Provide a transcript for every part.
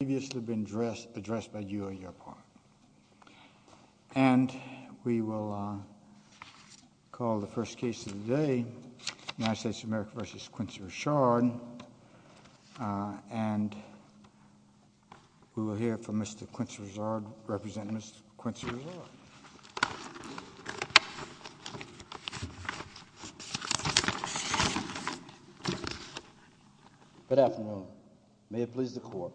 has previously been addressed by you on your part, and we will call the first case of the day, United States of America v. Quincy Richard, and we will hear from Mr. Quincy Richard, representing Mr. Quincy Richard. Good afternoon. May it please the court.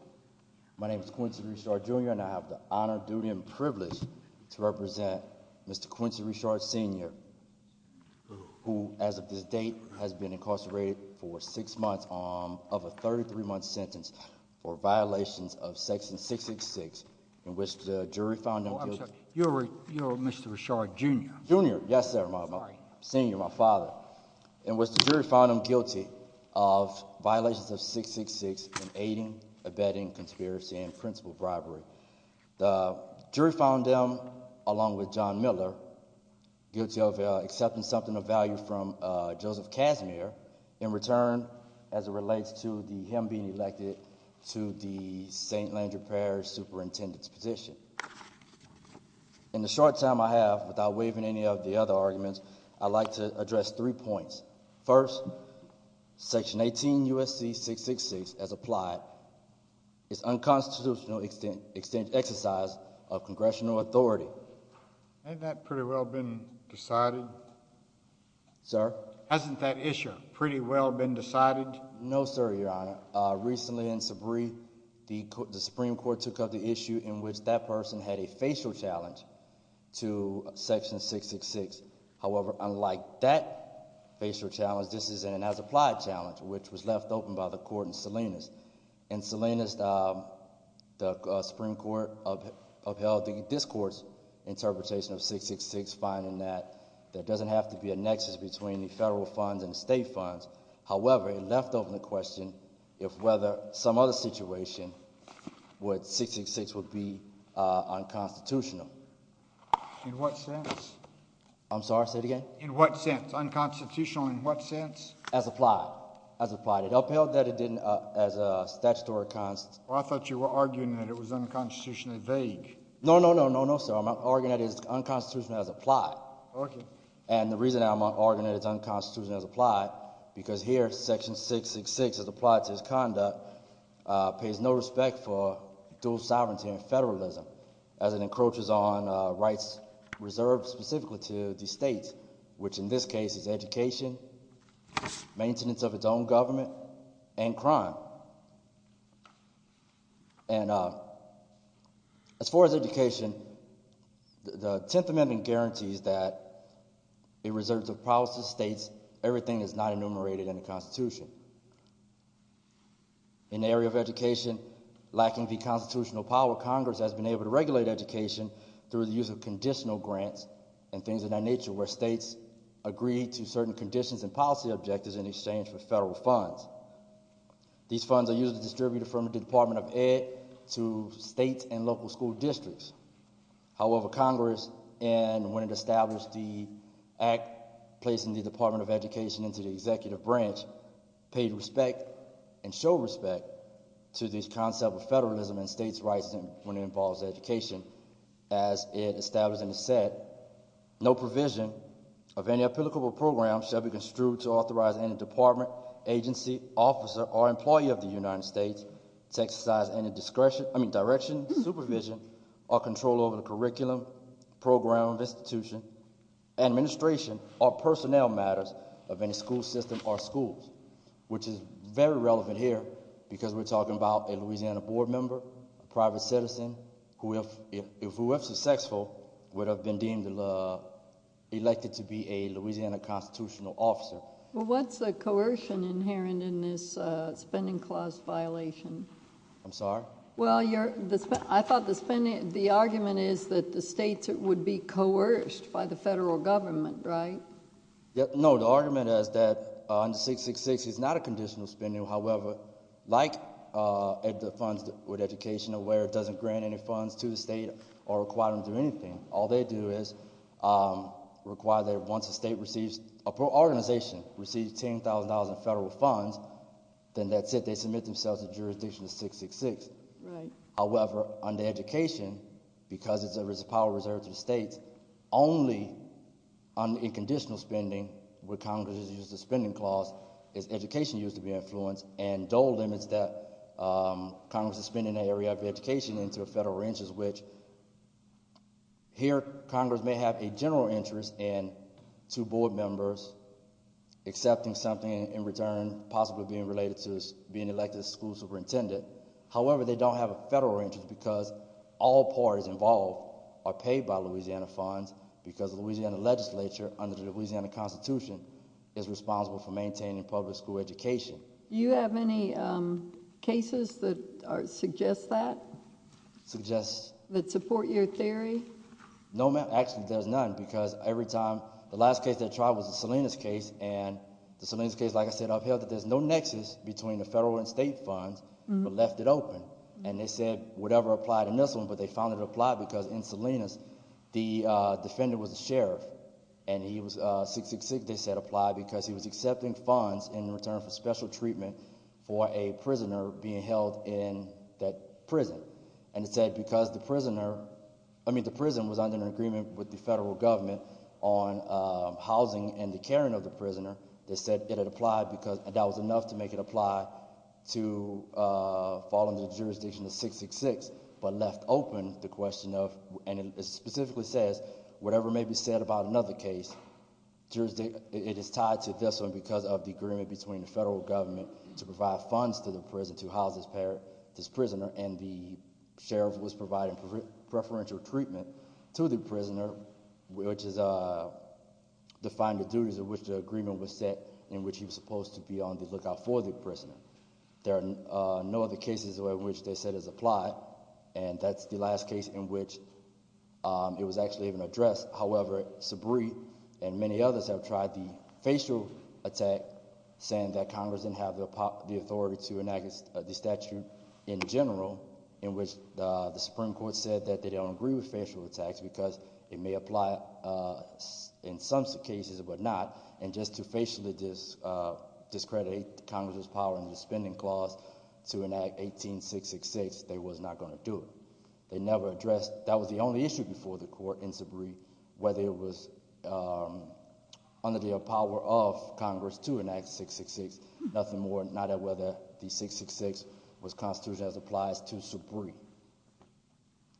My name is Quincy Richard, Jr., and I have the honor, duty, and privilege to represent Mr. Quincy Richard, Sr., who, as of this date, has been incarcerated for six months of a 33-month sentence for violations of Section 666, in which the jury found him guilty. You're Mr. Richard, Jr.? In the short time I have, without waiving any of the other arguments, I'd like to address three points. First, Section 18 U.S.C. 666, as applied, is unconstitutional exercise of congressional authority. Hasn't that pretty well been decided? Sir? Hasn't that issue pretty well been decided? No, sir, Your Honor. Recently in Sabree, the Supreme Court took up the issue in which that person had a facial challenge to Section 666. In what sense? I'm sorry, say it again? In what sense? Unconstitutional in what sense? As applied. As applied. It upheld that it didn't, as a statutory const... Well, I thought you were arguing that it was unconstitutionally vague. No, no, no, no, no, sir. I'm arguing that it is unconstitutional as applied. Okay. And the reason I'm arguing that it's unconstitutional as applied, because here, Section 666, as applied to its conduct, pays no respect for dual sovereignty and federalism. As it encroaches on rights reserved specifically to the states, which in this case is education, maintenance of its own government, and crime. And as far as education, the Tenth Amendment guarantees that in reserves of policies, states, everything is not enumerated in the Constitution. In the area of education, lacking the constitutional power, Congress has been able to regulate education through the use of conditional grants and things of that nature, where states agree to certain conditions and policy objectives in exchange for federal funds. These funds are usually distributed from the Department of Ed to state and local school districts. However, Congress, when it established the act placing the Department of Education into the executive branch, paid respect and showed respect to this concept of federalism and states' rights when it involves education. As it established in the set, no provision of any applicable program shall be construed to authorize any department, agency, officer, or employee of the United States to exercise any direction, supervision, or control over the curriculum, program, institution, administration, or personnel matters of any school system or schools. Which is very relevant here because we're talking about a Louisiana board member, a private citizen, who if successful would have been deemed elected to be a Louisiana constitutional officer. Well, what's the coercion inherent in this spending clause violation? I'm sorry? Well, I thought the argument is that the states would be coerced by the federal government, right? No, the argument is that under 666 is not a conditional spending. However, like the funds with education where it doesn't grant any funds to the state or require them to do anything, all they do is require that once a state receives, an organization receives $10,000 in federal funds, then that's it. They submit themselves to jurisdiction of 666. Right. However, under education, because there is a power reserved to the states, only in conditional spending would Congress use the spending clause if education used to be influenced and dole limits that Congress is spending an area of education into a federal ranches, which here Congress may have a general interest in two board members accepting something in return, possibly being related to being elected school superintendent. However, they don't have a federal interest because all parties involved are paid by Louisiana funds because the Louisiana legislature under the Louisiana Constitution is responsible for maintaining public school education. Do you have any cases that suggest that? Suggest? That support your theory? No, ma'am. Actually, there's none because every time, the last case they tried was the Salinas case, and the Salinas case, like I said, upheld that there's no nexus between the federal and state funds, but left it open. And they said whatever applied in this one, but they found it applied because in Salinas, the defender was a sheriff and he was 666, they said, applied because he was accepting funds in return for special treatment for a prisoner being held in that prison. And it said because the prisoner, I mean the prison was under an agreement with the federal government on housing and the caring of the prisoner. They said it had applied because that was enough to make it apply to fall under the jurisdiction of 666, but left open the question of, and it specifically says, whatever may be said about another case, it is tied to this one because of the agreement between the federal government to provide funds to the prison to house this prisoner, and the sheriff was providing preferential treatment to the prisoner, which defined the duties of which the agreement was set in which he was supposed to be on the lookout for the prisoner. There are no other cases in which they said it's applied, and that's the last case in which it was actually even addressed. However, Sabree and many others have tried the facial attack, saying that Congress didn't have the authority to enact the statute in general, in which the Supreme Court said that they don't agree with facial attacks because it may apply in some cases but not, and just to facially discredit Congress's power in the spending clause to enact 1866, they were not going to do it. They never addressed, that was the only issue before the court in Sabree, whether it was under the power of Congress to enact 1866. Nothing more, not at whether the 1866 was constituted as applies to Sabree.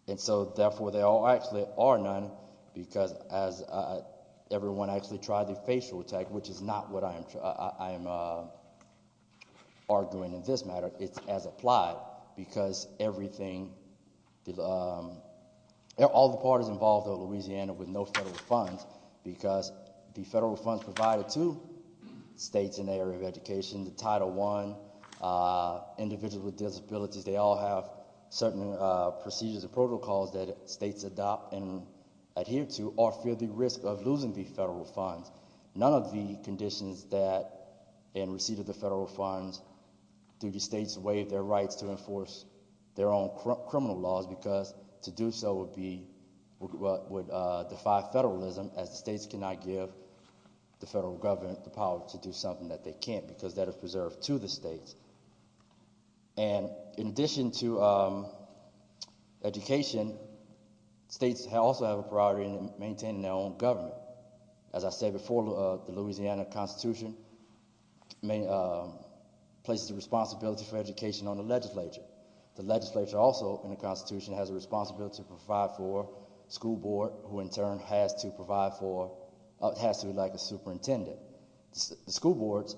And so therefore, there actually are none because everyone actually tried the facial attack, which is not what I am arguing in this matter. It's as applied because everything, all the parties involved in Louisiana with no federal funds, because the federal funds provided to states in the area of education, the Title I, individuals with disabilities, they all have certain procedures and protocols that states adopt and adhere to or feel the risk of losing the federal funds. None of the conditions that, in receipt of the federal funds, do the states waive their rights to enforce their own criminal laws because to do so would be, would defy federalism as the states cannot give the federal government the power to do something that they can't because that is preserved to the states. And in addition to education, states also have a priority in maintaining their own government. As I said before, the Louisiana Constitution places the responsibility for education on the legislature. The legislature also, in the Constitution, has a responsibility to provide for the school board, who in turn has to provide for, has to be like a superintendent. The school boards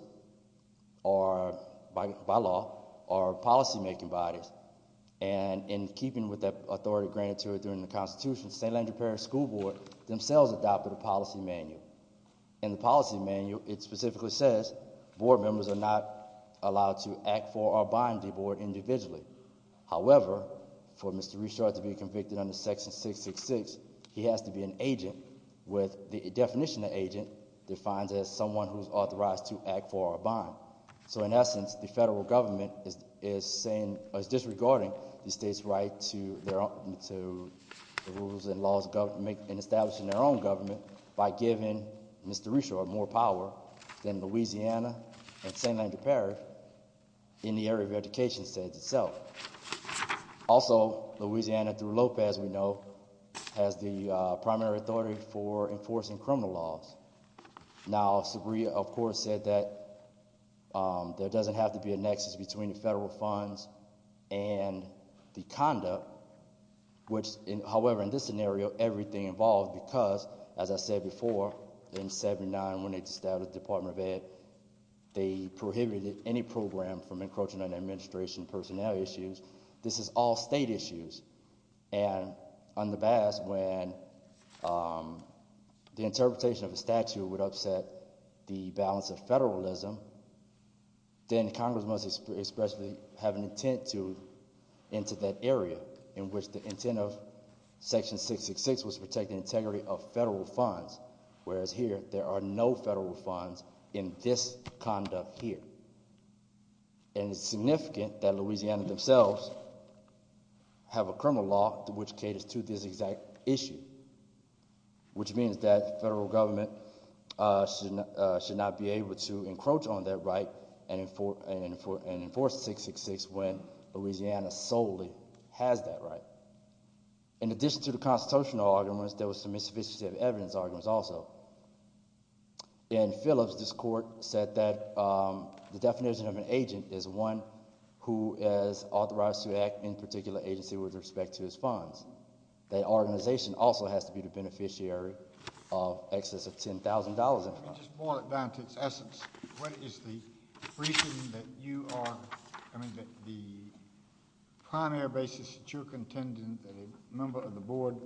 are, by law, are policymaking bodies. And in keeping with that authority granted to it during the Constitution, the St. Andrew Parish School Board themselves adopted a policy manual. In the policy manual, it specifically says board members are not allowed to act for or bind the board individually. However, for Mr. Richard to be convicted under Section 666, he has to be an agent with the definition of agent defined as someone who is authorized to act for or bind. So in essence, the federal government is saying, is disregarding the state's right to their own, to the rules and laws and establishing their own government by giving Mr. Richard more power than Louisiana and St. Andrew Parish in the area of education states itself. Also, Louisiana, through Lopez, we know, has the primary authority for enforcing criminal laws. Now, Sabria, of course, said that there doesn't have to be a nexus between the federal funds and the conduct, which, however, in this scenario, everything involved because, as I said before, in 79, when they established the Department of Ed, they prohibited any program from encroaching on administration personnel issues. This is all state issues. And in the past, when the interpretation of the statute would upset the balance of federalism, then Congress must expressly have an intent to enter that area in which the intent of Section 666 was to protect the integrity of federal funds. Whereas here, there are no federal funds in this conduct here. And it's significant that Louisiana themselves have a criminal law which caters to this exact issue, which means that federal government should not be able to encroach on their right and enforce 666 when Louisiana solely has that right. In addition to the constitutional arguments, there was some insufficient evidence arguments also. In Phillips, this court said that the definition of an agent is one who is authorized to act in particular agency with respect to his funds. That organization also has to be the beneficiary of excess of $10,000 in funds. Let me just boil it down to its essence. What is the reason that you are, I mean, the primary basis that you're contending that a member of the Board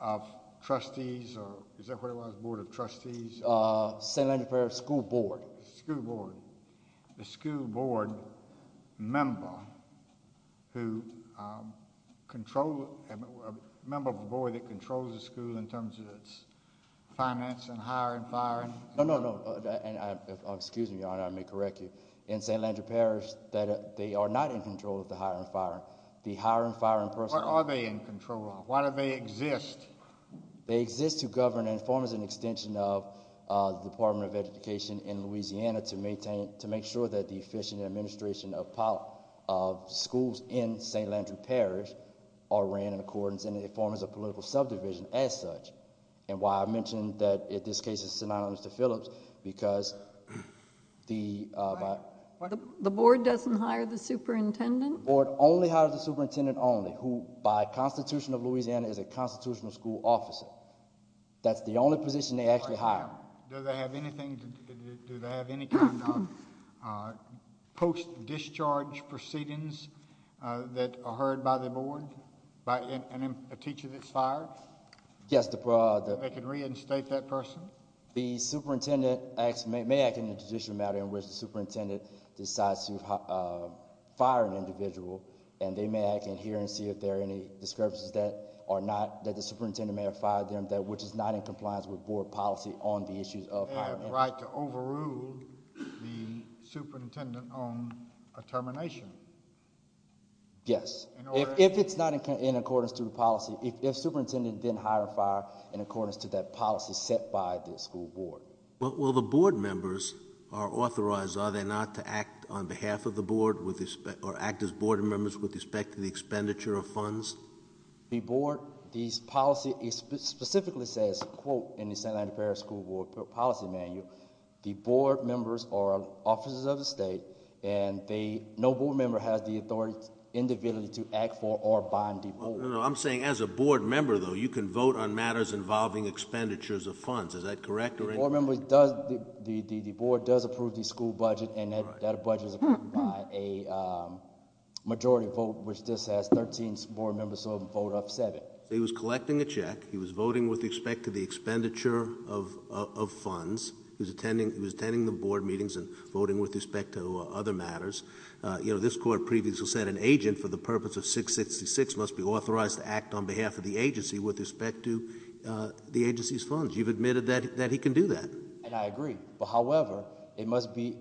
of Trustees, or is that what it was, the Board of Trustees? St. Landry Parish School Board. The school board member who controls, a member of the board that controls the school in terms of its finance and hire and fire? No, no, no. Excuse me, Your Honor, I may correct you. In St. Landry Parish, they are not in control of the hire and fire. What are they in control of? Why do they exist? They exist to govern and form as an extension of the Department of Education in Louisiana to make sure that the efficient administration of schools in St. Landry Parish are ran in accordance, and they form as a political subdivision as such. And why I mention that in this case is synonymous to Phillips, because the... The board doesn't hire the superintendent? The board only hires the superintendent only, who by Constitution of Louisiana is a constitutional school officer. That's the only position they actually hire. Do they have anything, do they have any kind of post-discharge proceedings that are heard by the board, by a teacher that's fired? Yes, the... They can reinstate that person? The superintendent may act in a judicial matter in which the superintendent decides to fire an individual, and they may act in here and see if there are any discrepancies that are not, that the superintendent may have fired them, which is not in compliance with board policy on the issues of hire and fire. They have the right to overrule the superintendent on a termination? Yes. In order... Well, the board members are authorized, are they not, to act on behalf of the board, or act as board members with respect to the expenditure of funds? The board... These policy... It specifically says, quote, in the Santa Ana Parish School Board Policy Manual, the board members are officers of the state, and they... No board member has the authority, individually, to act for or bind the board. I'm saying as a board member, though, you can vote on matters involving expenditures of funds. Is that correct? The board member does... The board does approve the school budget, and that budget is approved by a majority vote, which just has 13 board members, so a vote of 7. He was collecting a check. He was voting with respect to the expenditure of funds. He was attending the board meetings and voting with respect to other matters. You know, this court previously said an agent, for the purpose of 666, must be authorized to act on behalf of the agency with respect to the agency's funds. You've admitted that he can do that. And I agree. However, it must be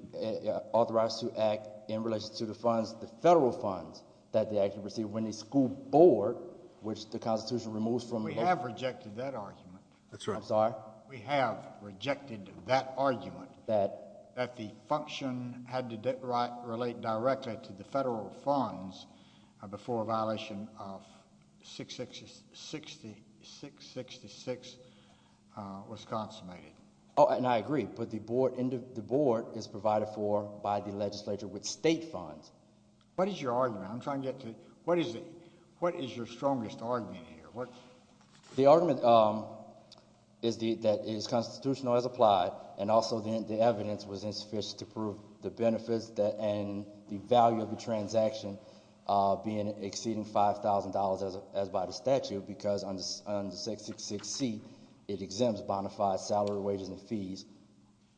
authorized to act in relation to the funds, the federal funds, that they actually receive when the school board, which the Constitution removes from... We have rejected that argument. That's right. I'm sorry? We have rejected that argument. That? That the function had to relate directly to the federal funds before a violation of 666 was consummated. Oh, and I agree. But the board is provided for by the legislature with state funds. What is your argument? I'm trying to get to... What is your strongest argument here? The argument is that it is constitutional as applied, and also the evidence was insufficient to prove the benefits and the value of the transaction being exceeding $5,000 as by the statute, because under 666C, it exempts bonafide salary, wages, and fees.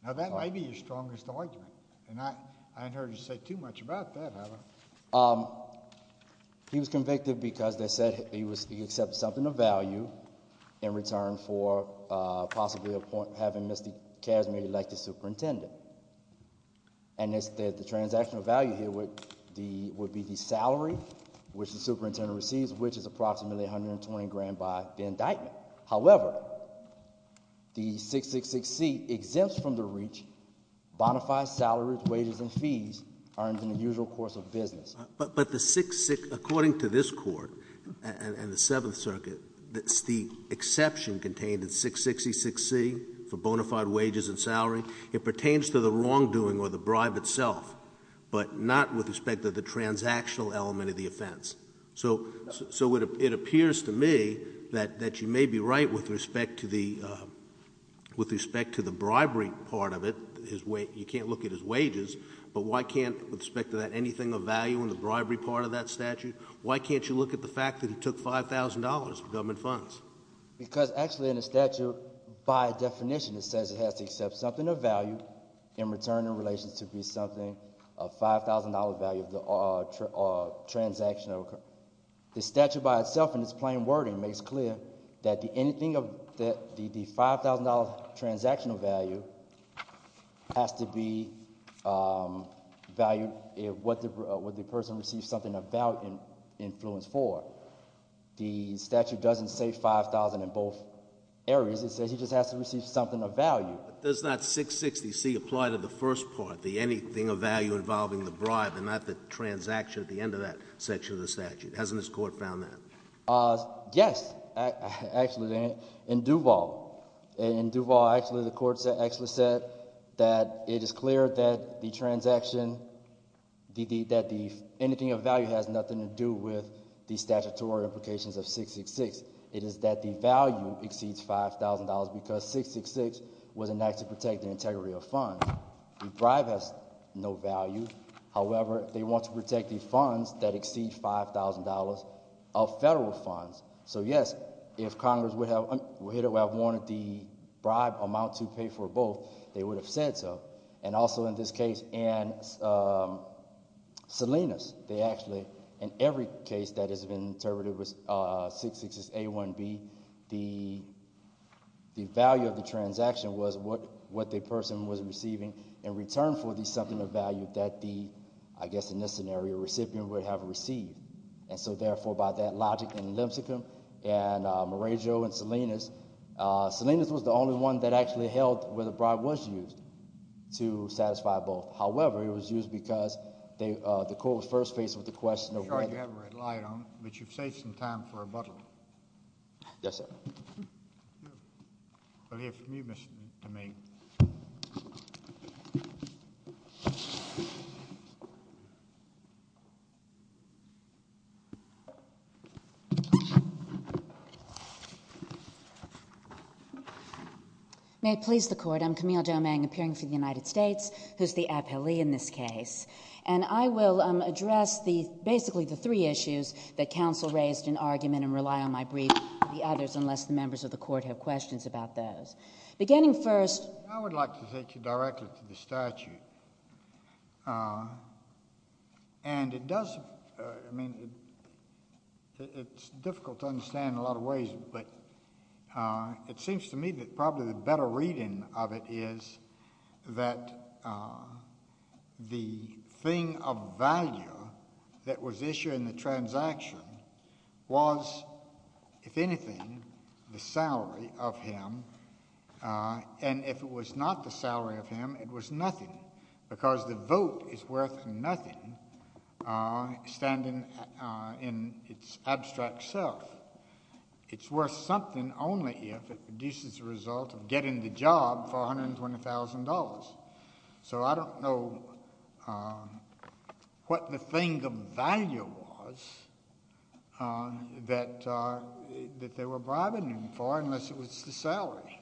Now, that might be your strongest argument. And I haven't heard you say too much about that, have I? He was convicted because they said he accepted something of value in return for possibly having missed the case, maybe like the superintendent. And the transactional value here would be the salary, which the superintendent receives, which is approximately $120,000 by the indictment. However, the 666C exempts from the reach bonafide salaries, wages, and fees earned in the usual course of business. But according to this Court and the Seventh Circuit, the exception contained in 666C for bonafide wages and salary, it pertains to the wrongdoing or the bribe itself, but not with respect to the transactional element of the offense. So it appears to me that you may be right with respect to the bribery part of it. You can't look at his wages. But why can't, with respect to that, anything of value in the bribery part of that statute? Why can't you look at the fact that he took $5,000 of government funds? Because actually in the statute, by definition it says it has to accept something of value in return in relation to be something of $5,000 value of the transactional. The statute by itself in its plain wording makes clear that the $5,000 transactional value has to be valued what the person receives something of value and influence for. The statute doesn't say $5,000 in both areas. It says he just has to receive something of value. But does that 666C apply to the first part, the anything of value involving the bribe and not the transaction at the end of that section of the statute? Hasn't this Court found that? Yes, actually, in Duval. In Duval, actually, the Court actually said that it is clear that the transaction, that the anything of value has nothing to do with the statutory implications of 666. It is that the value exceeds $5,000 because 666 was enacted to protect the integrity of funds. The bribe has no value. However, they want to protect the funds that exceed $5,000 of federal funds. So yes, if Congress would have wanted the bribe amount to pay for both, they would have said so. And also in this case, in Salinas, they actually, in every case that has been interpreted with 666A1B, the value of the transaction was what the person was receiving in return for the something of value that the, I guess in this scenario, recipient would have received. And so, therefore, by that logic in Limsecum and Marejo and Salinas, Salinas was the only one that actually held where the bribe was used to satisfy both. However, it was used because the Court was first faced with the question of whether— I'm sure you have a red light on it, but you've saved some time for rebuttal. Yes, sir. We'll hear from you, Mr. Domingue. May it please the Court. I'm Camille Domingue, appearing for the United States, who is the appellee in this case. And I will address basically the three issues that counsel raised in argument and rely on my brief for the others, unless the members of the Court have questions about those. Beginning first— I would like to take you directly to the statute. And it does—I mean, it's difficult to understand in a lot of ways, but it seems to me that probably the better reading of it is that the thing of value that was issued in the transaction was, if anything, the salary of him. And if it was not the salary of him, it was nothing, because the vote is worth nothing standing in its abstract self. It's worth something only if it produces a result of getting the job for $120,000. So I don't know what the thing of value was that they were bribing him for, unless it was the salary.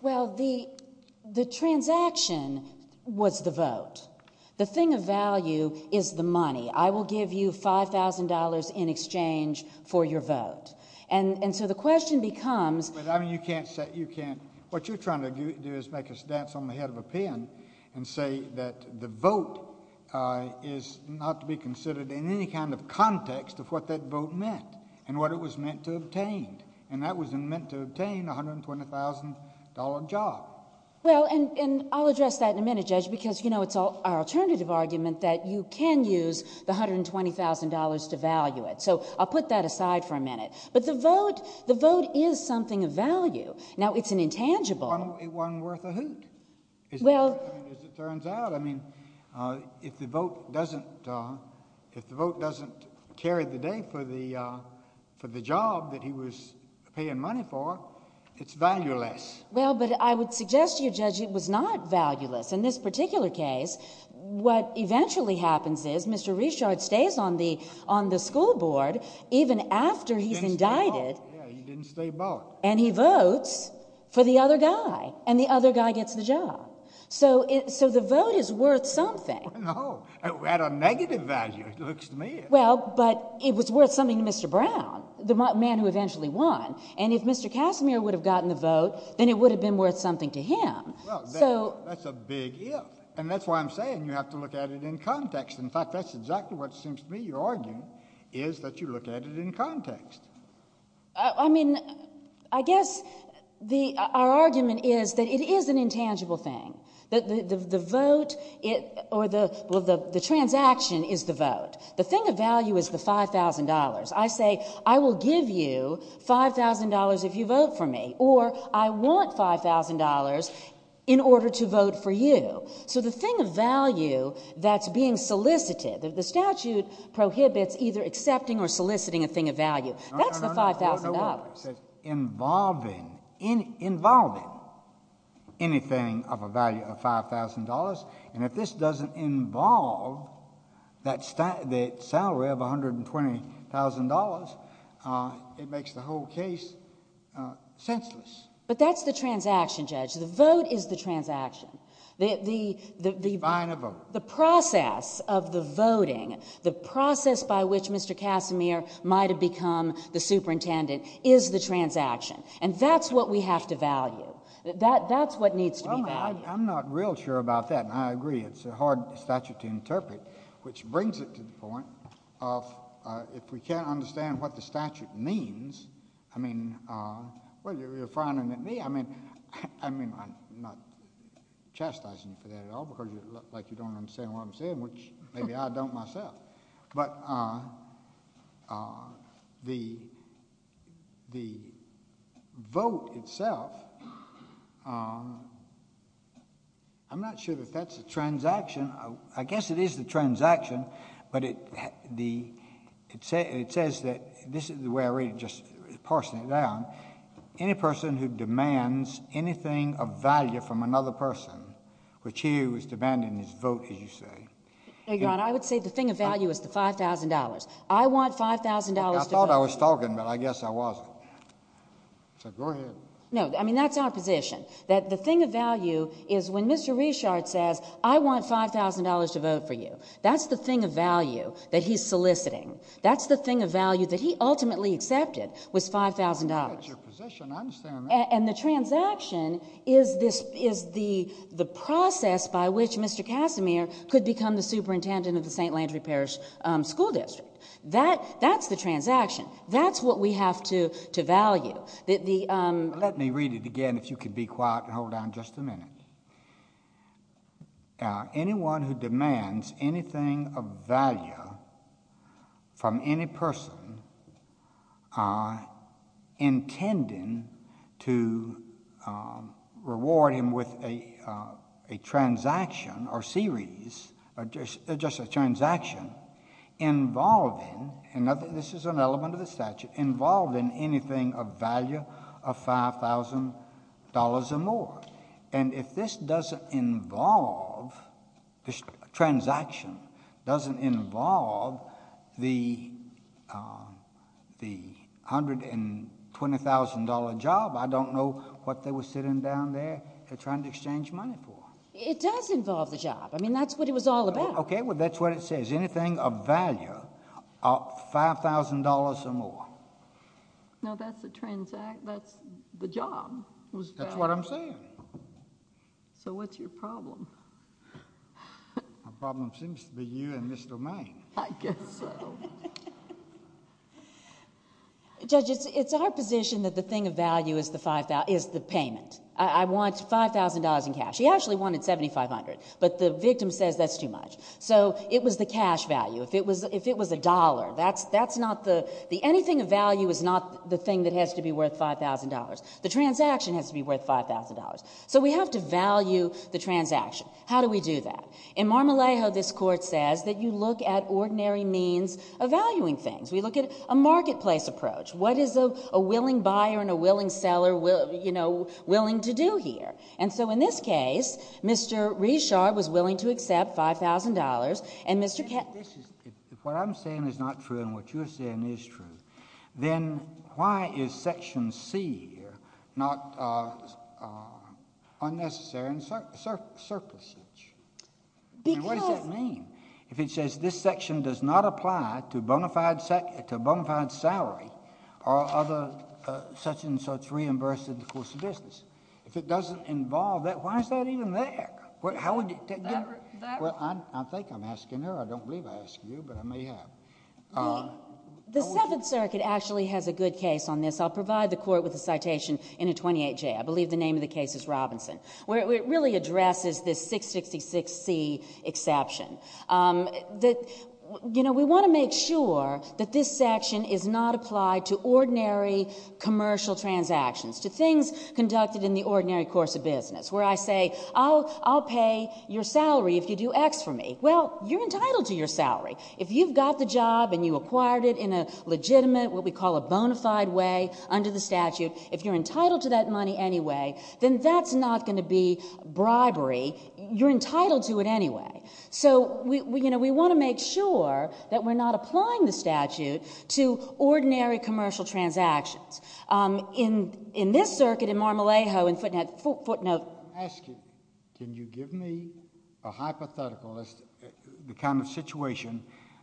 Well, the transaction was the vote. The thing of value is the money. I will give you $5,000 in exchange for your vote. And so the question becomes— What you're trying to do is make us dance on the head of a pin and say that the vote is not to be considered in any kind of context of what that vote meant and what it was meant to obtain. And that was meant to obtain a $120,000 job. Well, and I'll address that in a minute, Judge, because it's our alternative argument that you can use the $120,000 to value it. So I'll put that aside for a minute. But the vote is something of value. Now, it's an intangible— One worth a hoot, as it turns out. I mean, if the vote doesn't carry the day for the job that he was paying money for, it's valueless. Well, but I would suggest to you, Judge, it was not valueless. In this particular case, what eventually happens is Mr. Richard stays on the school board even after he's indicted, and he votes for the other guy, and the other guy gets the job. So the vote is worth something. No, at a negative value, it looks to me. Well, but it was worth something to Mr. Brown, the man who eventually won. And if Mr. Casimir would have gotten the vote, then it would have been worth something to him. Well, that's a big if, and that's why I'm saying you have to look at it in context. In fact, that's exactly what it seems to me you're arguing, is that you look at it in context. I mean, I guess our argument is that it is an intangible thing, that the vote or the transaction is the vote. The thing of value is the $5,000. I say I will give you $5,000 if you vote for me, or I want $5,000 in order to vote for you. So the thing of value that's being solicited, the statute prohibits either accepting or soliciting a thing of value. That's the $5,000. No, no, no. It says involving, involving anything of a value of $5,000. And if this doesn't involve the salary of $120,000, it makes the whole case senseless. But that's the transaction, Judge. The vote is the transaction. The process of the voting, the process by which Mr. Casimir might have become the superintendent is the transaction. And that's what we have to value. That's what needs to be valued. I'm not real sure about that, and I agree. It's a hard statute to interpret, which brings it to the point of if we can't understand what the statute means, I mean, well, you're frowning at me. I mean, I'm not chastising you for that at all, because you look like you don't understand what I'm saying, which maybe I don't myself. But the vote itself, I'm not sure that that's the transaction. I guess it is the transaction, but it says that this is the way I read it, just parsing it down. Any person who demands anything of value from another person, which he was demanding his vote, as you say. Your Honor, I would say the thing of value is the $5,000. I want $5,000 to vote. I thought I was talking, but I guess I wasn't. So go ahead. No, I mean, that's our position, that the thing of value is when Mr. Richard says, I want $5,000 to vote for you, that's the thing of value that he's soliciting. That's the thing of value that he ultimately accepted was $5,000. That's your position. I understand that. And the transaction is the process by which Mr. Casimir could become the superintendent of the St. Landry Parish School District. That's the transaction. That's what we have to value. Let me read it again, if you could be quiet and hold on just a minute. Anyone who demands anything of value from any person intending to reward him with a transaction or series, just a transaction involving, and this is an element of the statute, involving anything of value of $5,000 or more. And if this doesn't involve, this transaction doesn't involve the $120,000 job, I don't know what they were sitting down there trying to exchange money for. It does involve the job. I mean, that's what it was all about. Okay, well, that's what it says. Anything of value of $5,000 or more. No, that's the job. That's what I'm saying. So what's your problem? My problem seems to be you and Mr. May. I guess so. Judge, it's our position that the thing of value is the payment. I want $5,000 in cash. He actually wanted $7,500, but the victim says that's too much. So it was the cash value. If it was $1, that's not the... anything of value is not the thing that has to be worth $5,000. The transaction has to be worth $5,000. So we have to value the transaction. How do we do that? In Marmolejo, this Court says that you look at ordinary means of valuing things. We look at a marketplace approach. What is a willing buyer and a willing seller, you know, willing to do here? And so in this case, Mr. Richard was willing to accept $5,000, and Mr....... not unnecessary and surplusage. Because... And what does that mean? If it says this section does not apply to a bona fide salary or other such and such reimbursement of course of business, if it doesn't involve that, why is that even there? How would you... That... Well, I think I'm asking her. I don't believe I asked you, but I may have. The Seventh Circuit actually has a good case on this. I'll provide the Court with a citation in a 28J. I believe the name of the case is Robinson, where it really addresses this 666C exception. You know, we want to make sure that this section is not applied to ordinary commercial transactions, to things conducted in the ordinary course of business, where I say, I'll pay your salary if you do X for me. Well, you're entitled to your salary. If you've got the job and you acquired it in a legitimate, what we call a bona fide way under the statute, if you're entitled to that money anyway, then that's not going to be bribery. You're entitled to it anyway. So, you know, we want to make sure that we're not applying the statute to ordinary commercial transactions. In this circuit, in Mar-a-Lago, in footnote......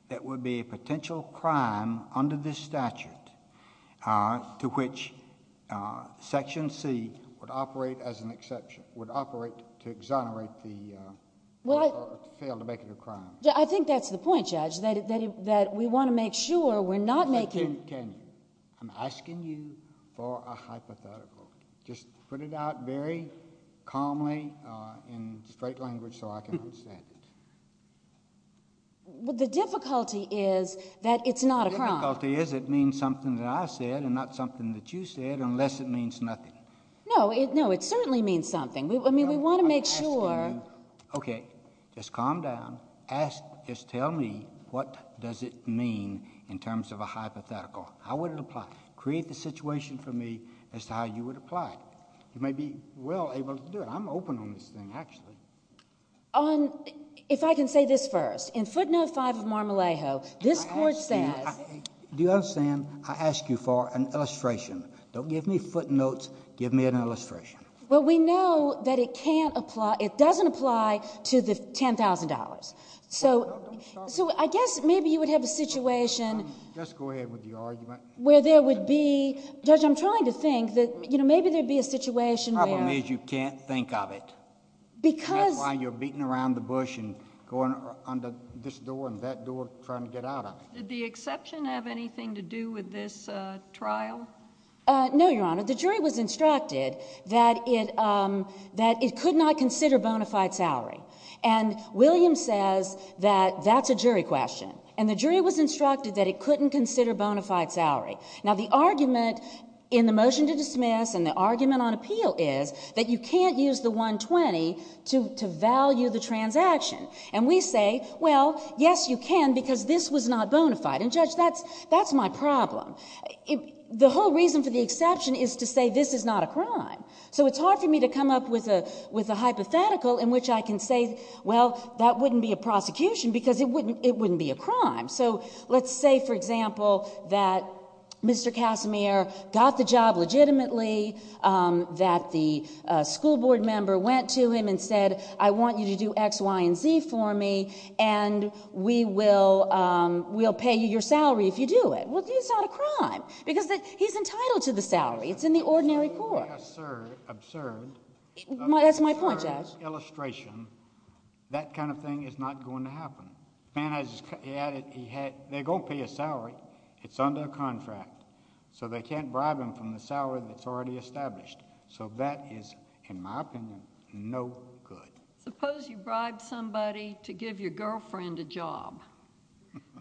that would be a potential crime under this statute to which Section C would operate as an exception, would operate to exonerate the... Well, I...... or fail to make it a crime. I think that's the point, Judge, that we want to make sure we're not making... Can you? I'm asking you for a hypothetical. Just put it out very calmly in straight language so I can understand it. Well, the difficulty is that it's not a crime. The difficulty is it means something that I said and not something that you said, unless it means nothing. No, it certainly means something. I mean, we want to make sure... Okay, just calm down. Just tell me what does it mean in terms of a hypothetical. How would it apply? Create the situation for me as to how you would apply it. You may be well able to do it. I'm open on this thing, actually. If I can say this first. In footnote 5 of Marmalejo, this court says... Do you understand? I ask you for an illustration. Don't give me footnotes. Give me an illustration. Well, we know that it can't apply... it doesn't apply to the $10,000. So I guess maybe you would have a situation... Just go ahead with your argument.... where there would be... Judge, I'm trying to think that maybe there would be a situation where... The problem is you can't think of it. Because... That's why you're beating around the bush and going under this door and that door trying to get out of it. Did the exception have anything to do with this trial? No, Your Honor. The jury was instructed that it could not consider bona fide salary. And Williams says that that's a jury question. And the jury was instructed that it couldn't consider bona fide salary. Now the argument in the motion to dismiss and the argument on appeal is that you can't use the $120,000 to value the transaction. And we say, well, yes you can because this was not bona fide. And Judge, that's my problem. The whole reason for the exception is to say this is not a crime. So it's hard for me to come up with a hypothetical in which I can say, well, that wouldn't be a prosecution because it wouldn't be a crime. So let's say, for example, that Mr. Casimir got the job legitimately, that the school board member went to him and said, I want you to do X, Y, and Z for me, and we will pay you your salary if you do it. Well, it's not a crime because he's entitled to the salary. It's in the ordinary court. Sir, absurd. That's my point, Judge. That kind of thing is not going to happen. They're going to pay a salary. It's under a contract. So they can't bribe him from the salary that's already established. So that is, in my opinion, no good. Suppose you bribe somebody to give your girlfriend a job.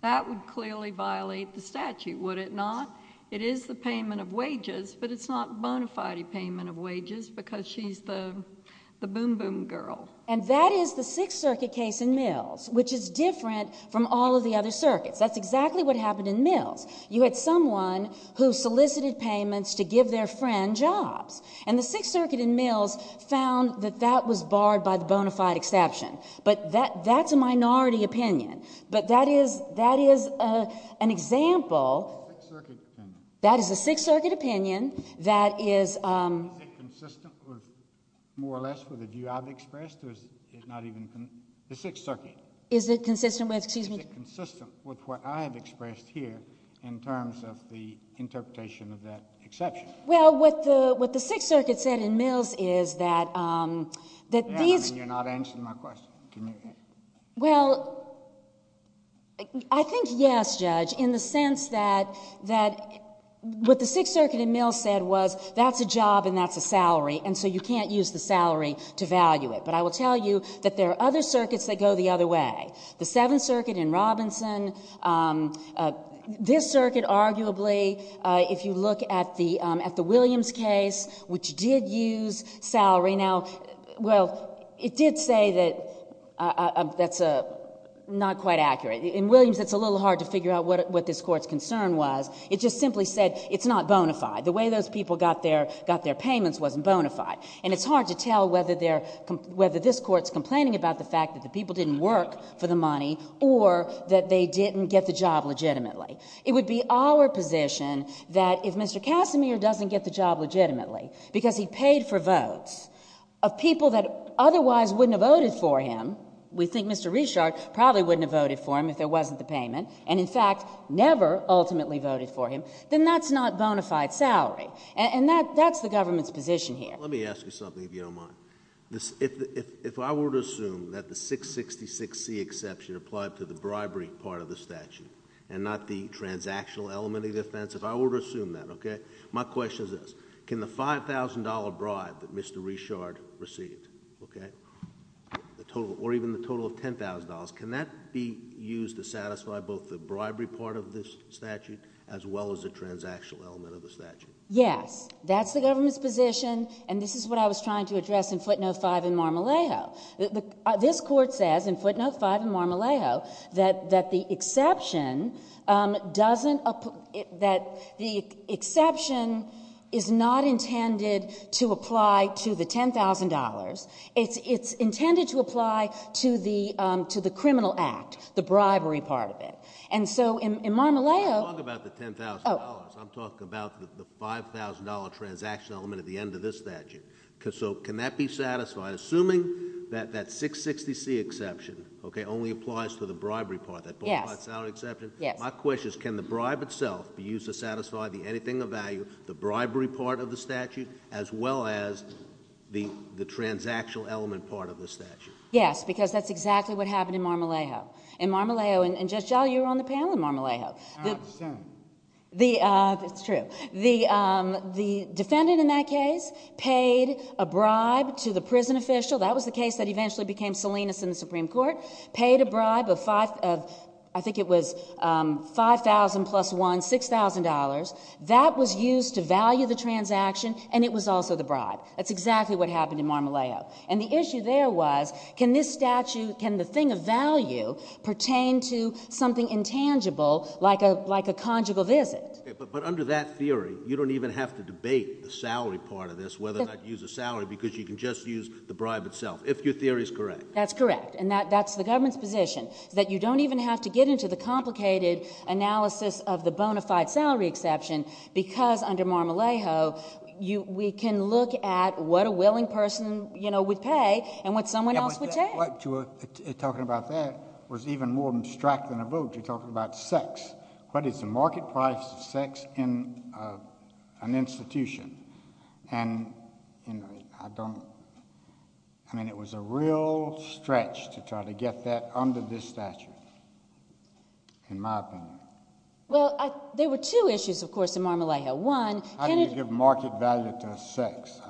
That would clearly violate the statute, would it not? It is the payment of wages, but it's not bona fide payment of wages because she's the boom-boom girl. And that is the Sixth Circuit case in Mills, which is different from all of the other circuits. That's exactly what happened in Mills. You had someone who solicited payments to give their friend jobs. And the Sixth Circuit in Mills found that that was barred by the bona fide exception. But that's a minority opinion. But that is an example. Sixth Circuit opinion. That is a Sixth Circuit opinion. Is it consistent, more or less, with the view I've expressed, or is it not even? The Sixth Circuit. Is it consistent with, excuse me? Is it consistent with what I have expressed here in terms of the interpretation of that exception? Well, what the Sixth Circuit said in Mills is that these— You're not answering my question. Can you— Well, I think yes, Judge, in the sense that what the Sixth Circuit in Mills said was that's a job and that's a salary, and so you can't use the salary to value it. But I will tell you that there are other circuits that go the other way. The Seventh Circuit in Robinson. This circuit, arguably, if you look at the Williams case, which did use salary. Well, it did say that's not quite accurate. In Williams, it's a little hard to figure out what this Court's concern was. It just simply said it's not bona fide. The way those people got their payments wasn't bona fide. And it's hard to tell whether this Court's complaining about the fact that the people didn't work for the money or that they didn't get the job legitimately. It would be our position that if Mr. Casimir doesn't get the job legitimately because he paid for votes of people that otherwise wouldn't have voted for him, we think Mr. Richard probably wouldn't have voted for him if there wasn't the payment, and in fact never ultimately voted for him, then that's not bona fide salary. And that's the government's position here. Let me ask you something, if you don't mind. If I were to assume that the 666C exception applied to the bribery part of the statute and not the transactional element of the offense, if I were to assume that, okay, my question is this. Can the $5,000 bribe that Mr. Richard received, okay, or even the total of $10,000, can that be used to satisfy both the bribery part of this statute as well as the transactional element of the statute? Yes. That's the government's position, and this is what I was trying to address in footnote 5 in Marmolejo. This Court says in footnote 5 in Marmolejo that the exception doesn't that the exception is not intended to apply to the $10,000. It's intended to apply to the criminal act, the bribery part of it. And so in Marmolejo I'm not talking about the $10,000. I'm talking about the $5,000 transactional element at the end of this statute. So can that be satisfied? Assuming that that $660C exception only applies to the bribery part, that $5,000 exception. Yes. My question is can the bribe itself be used to satisfy the anything of value, the bribery part of the statute as well as the transactional element part of the statute? Yes, because that's exactly what happened in Marmolejo. In Marmolejo, and Judge Gell, you were on the panel in Marmolejo. I understand. It's true. The defendant in that case paid a bribe to the prison official. That was the case that eventually became Salinas in the Supreme Court, paid a bribe of I think it was $5,000 plus one, $6,000. That was used to value the transaction, and it was also the bribe. That's exactly what happened in Marmolejo. And the issue there was can this statute, can the thing of value, pertain to something intangible like a conjugal visit? But under that theory, you don't even have to debate the salary part of this, whether or not you use a salary because you can just use the bribe itself, if your theory is correct. That's correct, and that's the government's position, that you don't even have to get into the complicated analysis of the bona fide salary exception because under Marmolejo we can look at what a willing person would pay and what someone else would take. Talking about that was even more abstract than a vote. You're talking about sex. What is the market price of sex in an institution? I mean, it was a real stretch to try to get that under this statute, in my opinion. Well, there were two issues, of course, in Marmolejo. One, can it— How do you give market value to sex?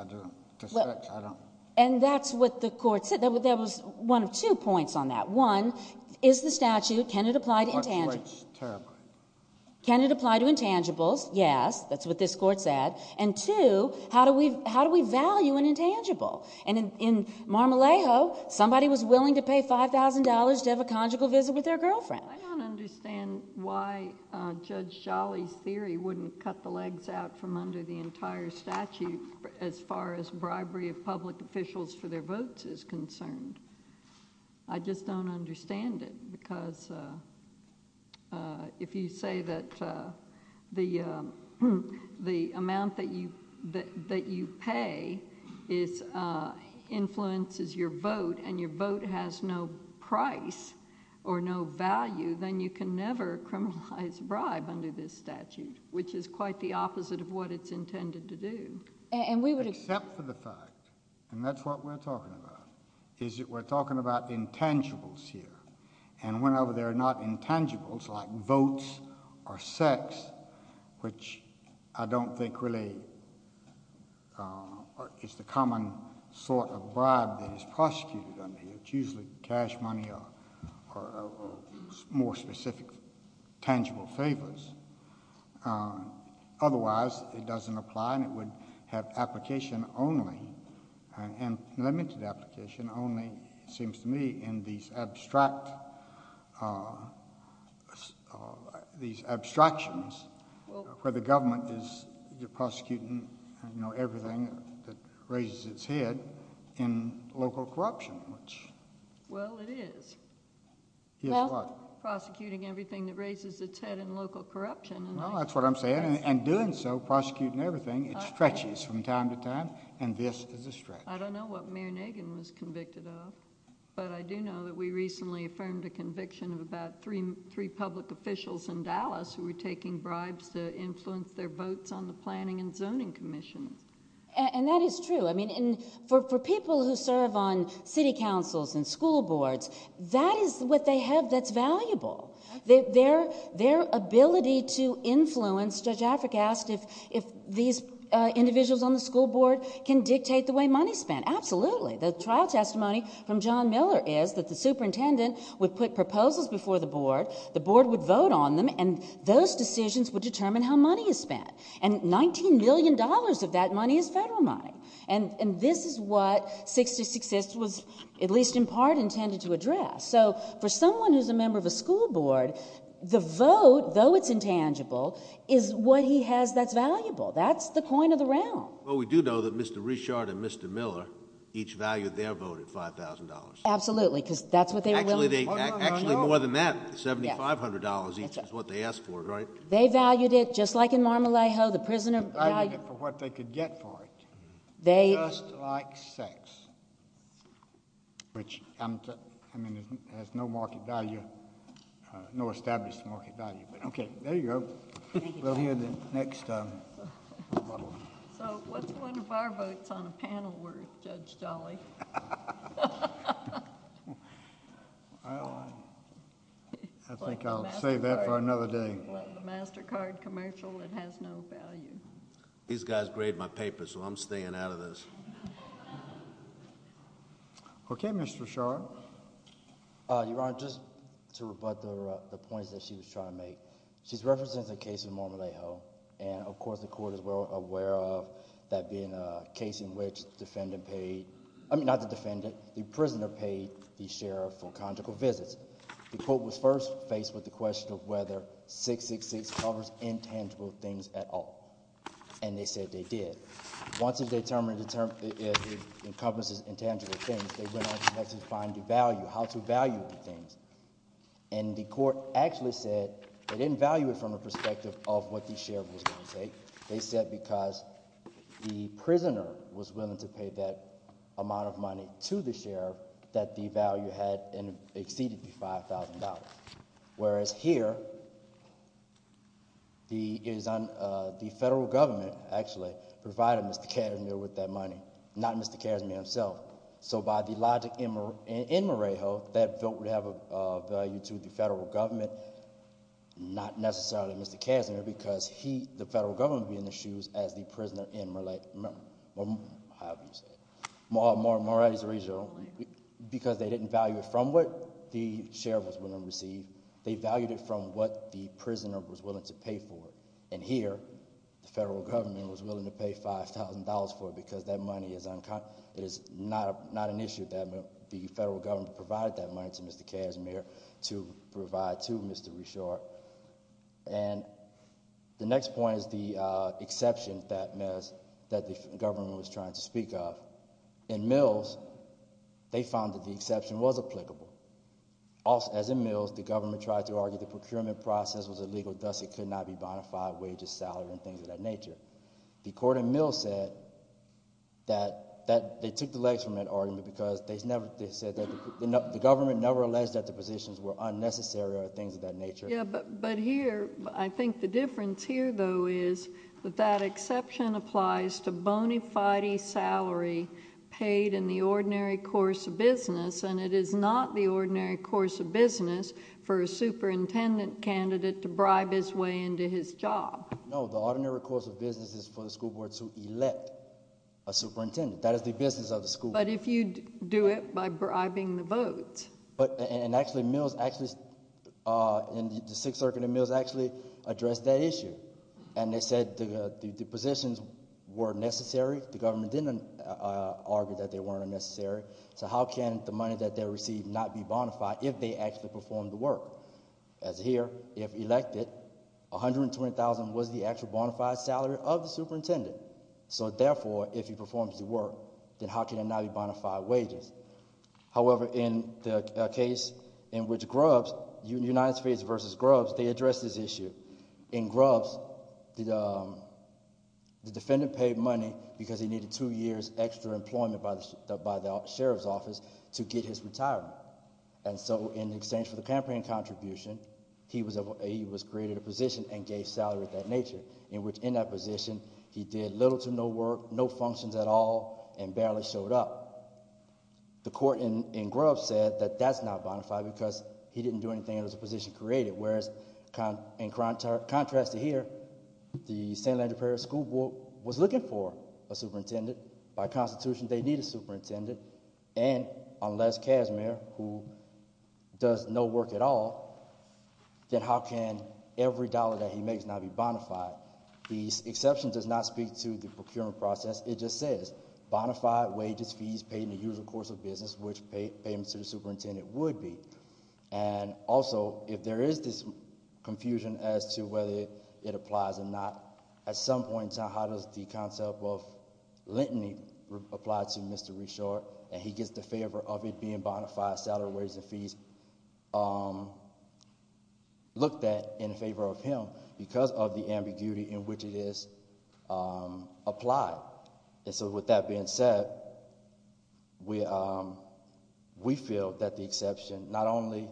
And that's what the court said. There was one of two points on that. One, is the statute, can it apply to intangible— What's terrible? Can it apply to intangibles? Yes, that's what this court said. And two, how do we value an intangible? And in Marmolejo, somebody was willing to pay $5,000 to have a conjugal visit with their girlfriend. I don't understand why Judge Jolly's theory wouldn't cut the legs out from under the entire statute as far as bribery of public officials for their votes is concerned. I just don't understand it, because if you say that the amount that you pay influences your vote and your vote has no price or no value, then you can never criminalize bribe under this statute, which is quite the opposite of what it's intended to do. Except for the fact, and that's what we're talking about, is that we're talking about intangibles here. And whenever they're not intangibles, like votes or sex, which I don't think really is the common sort of bribe that is prosecuted under here. It's usually cash money or more specific tangible favors. Otherwise, it doesn't apply and it would have application only, and limited application only, it seems to me, in these abstractions where the government is prosecuting everything that raises its head in local corruption. Well, it is. It is what? Prosecuting everything that raises its head in local corruption. Well, that's what I'm saying, and doing so, prosecuting everything, it stretches from time to time, and this is a stretch. I don't know what Mayor Nagin was convicted of, but I do know that we recently affirmed a conviction of about three public officials in Dallas who were taking bribes to influence their votes on the Planning and Zoning Commission. And that is true. I mean, for people who serve on city councils and school boards, that is what they have that's valuable. Their ability to influence, Judge Afric asked if these individuals on the school board can dictate the way money is spent. Absolutely. The trial testimony from John Miller is that the superintendent would put proposals before the board, the board would vote on them, and those decisions would determine how money is spent. And $19 million of that money is federal money. And this is what 66th was, at least in part, intended to address. So for someone who's a member of a school board, the vote, though it's intangible, is what he has that's valuable. That's the coin of the round. Well, we do know that Mr. Richard and Mr. Miller each valued their vote at $5,000. Absolutely, because that's what they were willing to do. Actually, more than that, $7,500 each is what they asked for, right? They valued it just like in Mar-a-Lago. They valued it for what they could get for it. They... Just like sex, which has no market value, no established market value. Okay, there you go. Thank you. We'll hear the next... So what's one of our votes on a panel worth, Judge Jolly? Well, I think I'll save that for another day. Well, the MasterCard commercial, it has no value. These guys grade my papers, so I'm staying out of this. Okay, Mr. Shaw. Your Honor, just to rebut the points that she was trying to make, she's referencing the case of Mar-a-Lago, and of course the court is well aware of that being a case in which the defendant paid... I mean, not the defendant, the prisoner paid the sheriff for conjugal visits. The court was first faced with the question of whether 666 covers intangible things at all, and they said they did. Once it's determined it encompasses intangible things, they went on to have to find the value, how to value the things. And the court actually said they didn't value it from the perspective of what the sheriff was going to take. They said because the prisoner was willing to pay that amount of money to the sheriff, that the value had exceeded the $5,000. Whereas here, the federal government actually provided Mr. Casimir with that money, not Mr. Casimir himself. So by the logic in Mar-a-Lago, that vote would have a value to the federal government, not necessarily Mr. Casimir because he, the federal government, would be in the shoes as the prisoner in Mar-a-Lago... how do you say it? Mar-a-Lago, because they didn't value it from what the sheriff was willing to receive. They valued it from what the prisoner was willing to pay for. And here, the federal government was willing to pay $5,000 for it because that money is not an issue. The federal government provided that money to Mr. Casimir to provide to Mr. Richard. And the next point is the exception that the government was trying to speak of. In Mills, they found that the exception was applicable. As in Mills, the government tried to argue the procurement process was illegal, thus it could not be bonafide wages, salary and things of that nature. The court in Mills said that they took the legs from that argument because they said that the government never alleged that the positions were unnecessary or things of that nature. Yeah, but here, I think the difference here though is that that exception applies to bonafide salary paid in the ordinary course of business. And it is not the ordinary course of business for a superintendent candidate to bribe his way into his job. No, the ordinary course of business is for the school board to elect a superintendent. That is the business of the school board. But if you do it by bribing the vote. And actually Mills actually, in the Sixth Circuit in Mills actually addressed that issue. And they said the positions were necessary. The government didn't argue that they weren't unnecessary. So how can the money that they received not be bonafide if they actually performed the work? As here, if elected, $120,000 was the actual bonafide salary of the superintendent. So therefore, if he performs the work, then how can it not be bonafide wages? However, in the case in which Grubbs, United States versus Grubbs, they addressed this issue. In Grubbs, the defendant paid money because he needed two years extra employment by the sheriff's office to get his retirement. And so in exchange for the campaign contribution, he was created a position and gave salary of that nature. In which in that position, he did little to no work, no functions at all, and barely showed up. The court in Grubbs said that that's not bonafide because he didn't do anything and it was a position created. Whereas, in contrast to here, the St. Andrew Parish School Board was looking for a superintendent. By constitution, they need a superintendent. And unless Casimir, who does no work at all, then how can every dollar that he makes not be bonafide? The exception does not speak to the procurement process. It just says bonafide wages, fees paid in the usual course of business, which payments to the superintendent would be. And also, if there is this confusion as to whether it applies or not. At some point in time, how does the concept of leniency apply to Mr. Reshore? And he gets the favor of it being bonafide salary, wages, and fees looked at in favor of him because of the ambiguity in which it is applied. And so with that being said, we feel that the exception not only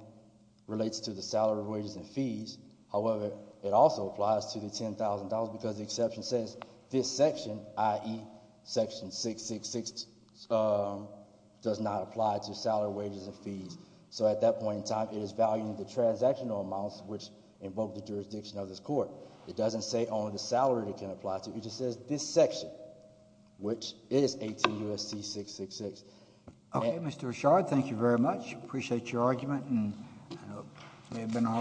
relates to the salary, wages, and fees. However, it also applies to the $10,000 because the exception says this section, i.e. section 666, does not apply to salary, wages, and fees. So at that point in time, it is valuing the transactional amounts, which invoke the jurisdiction of this court. It doesn't say only the salary it can apply to. It just says this section, which is 18 U.S.C. 666. Okay, Mr. Reshore, thank you very much. Appreciate your argument. Thank you.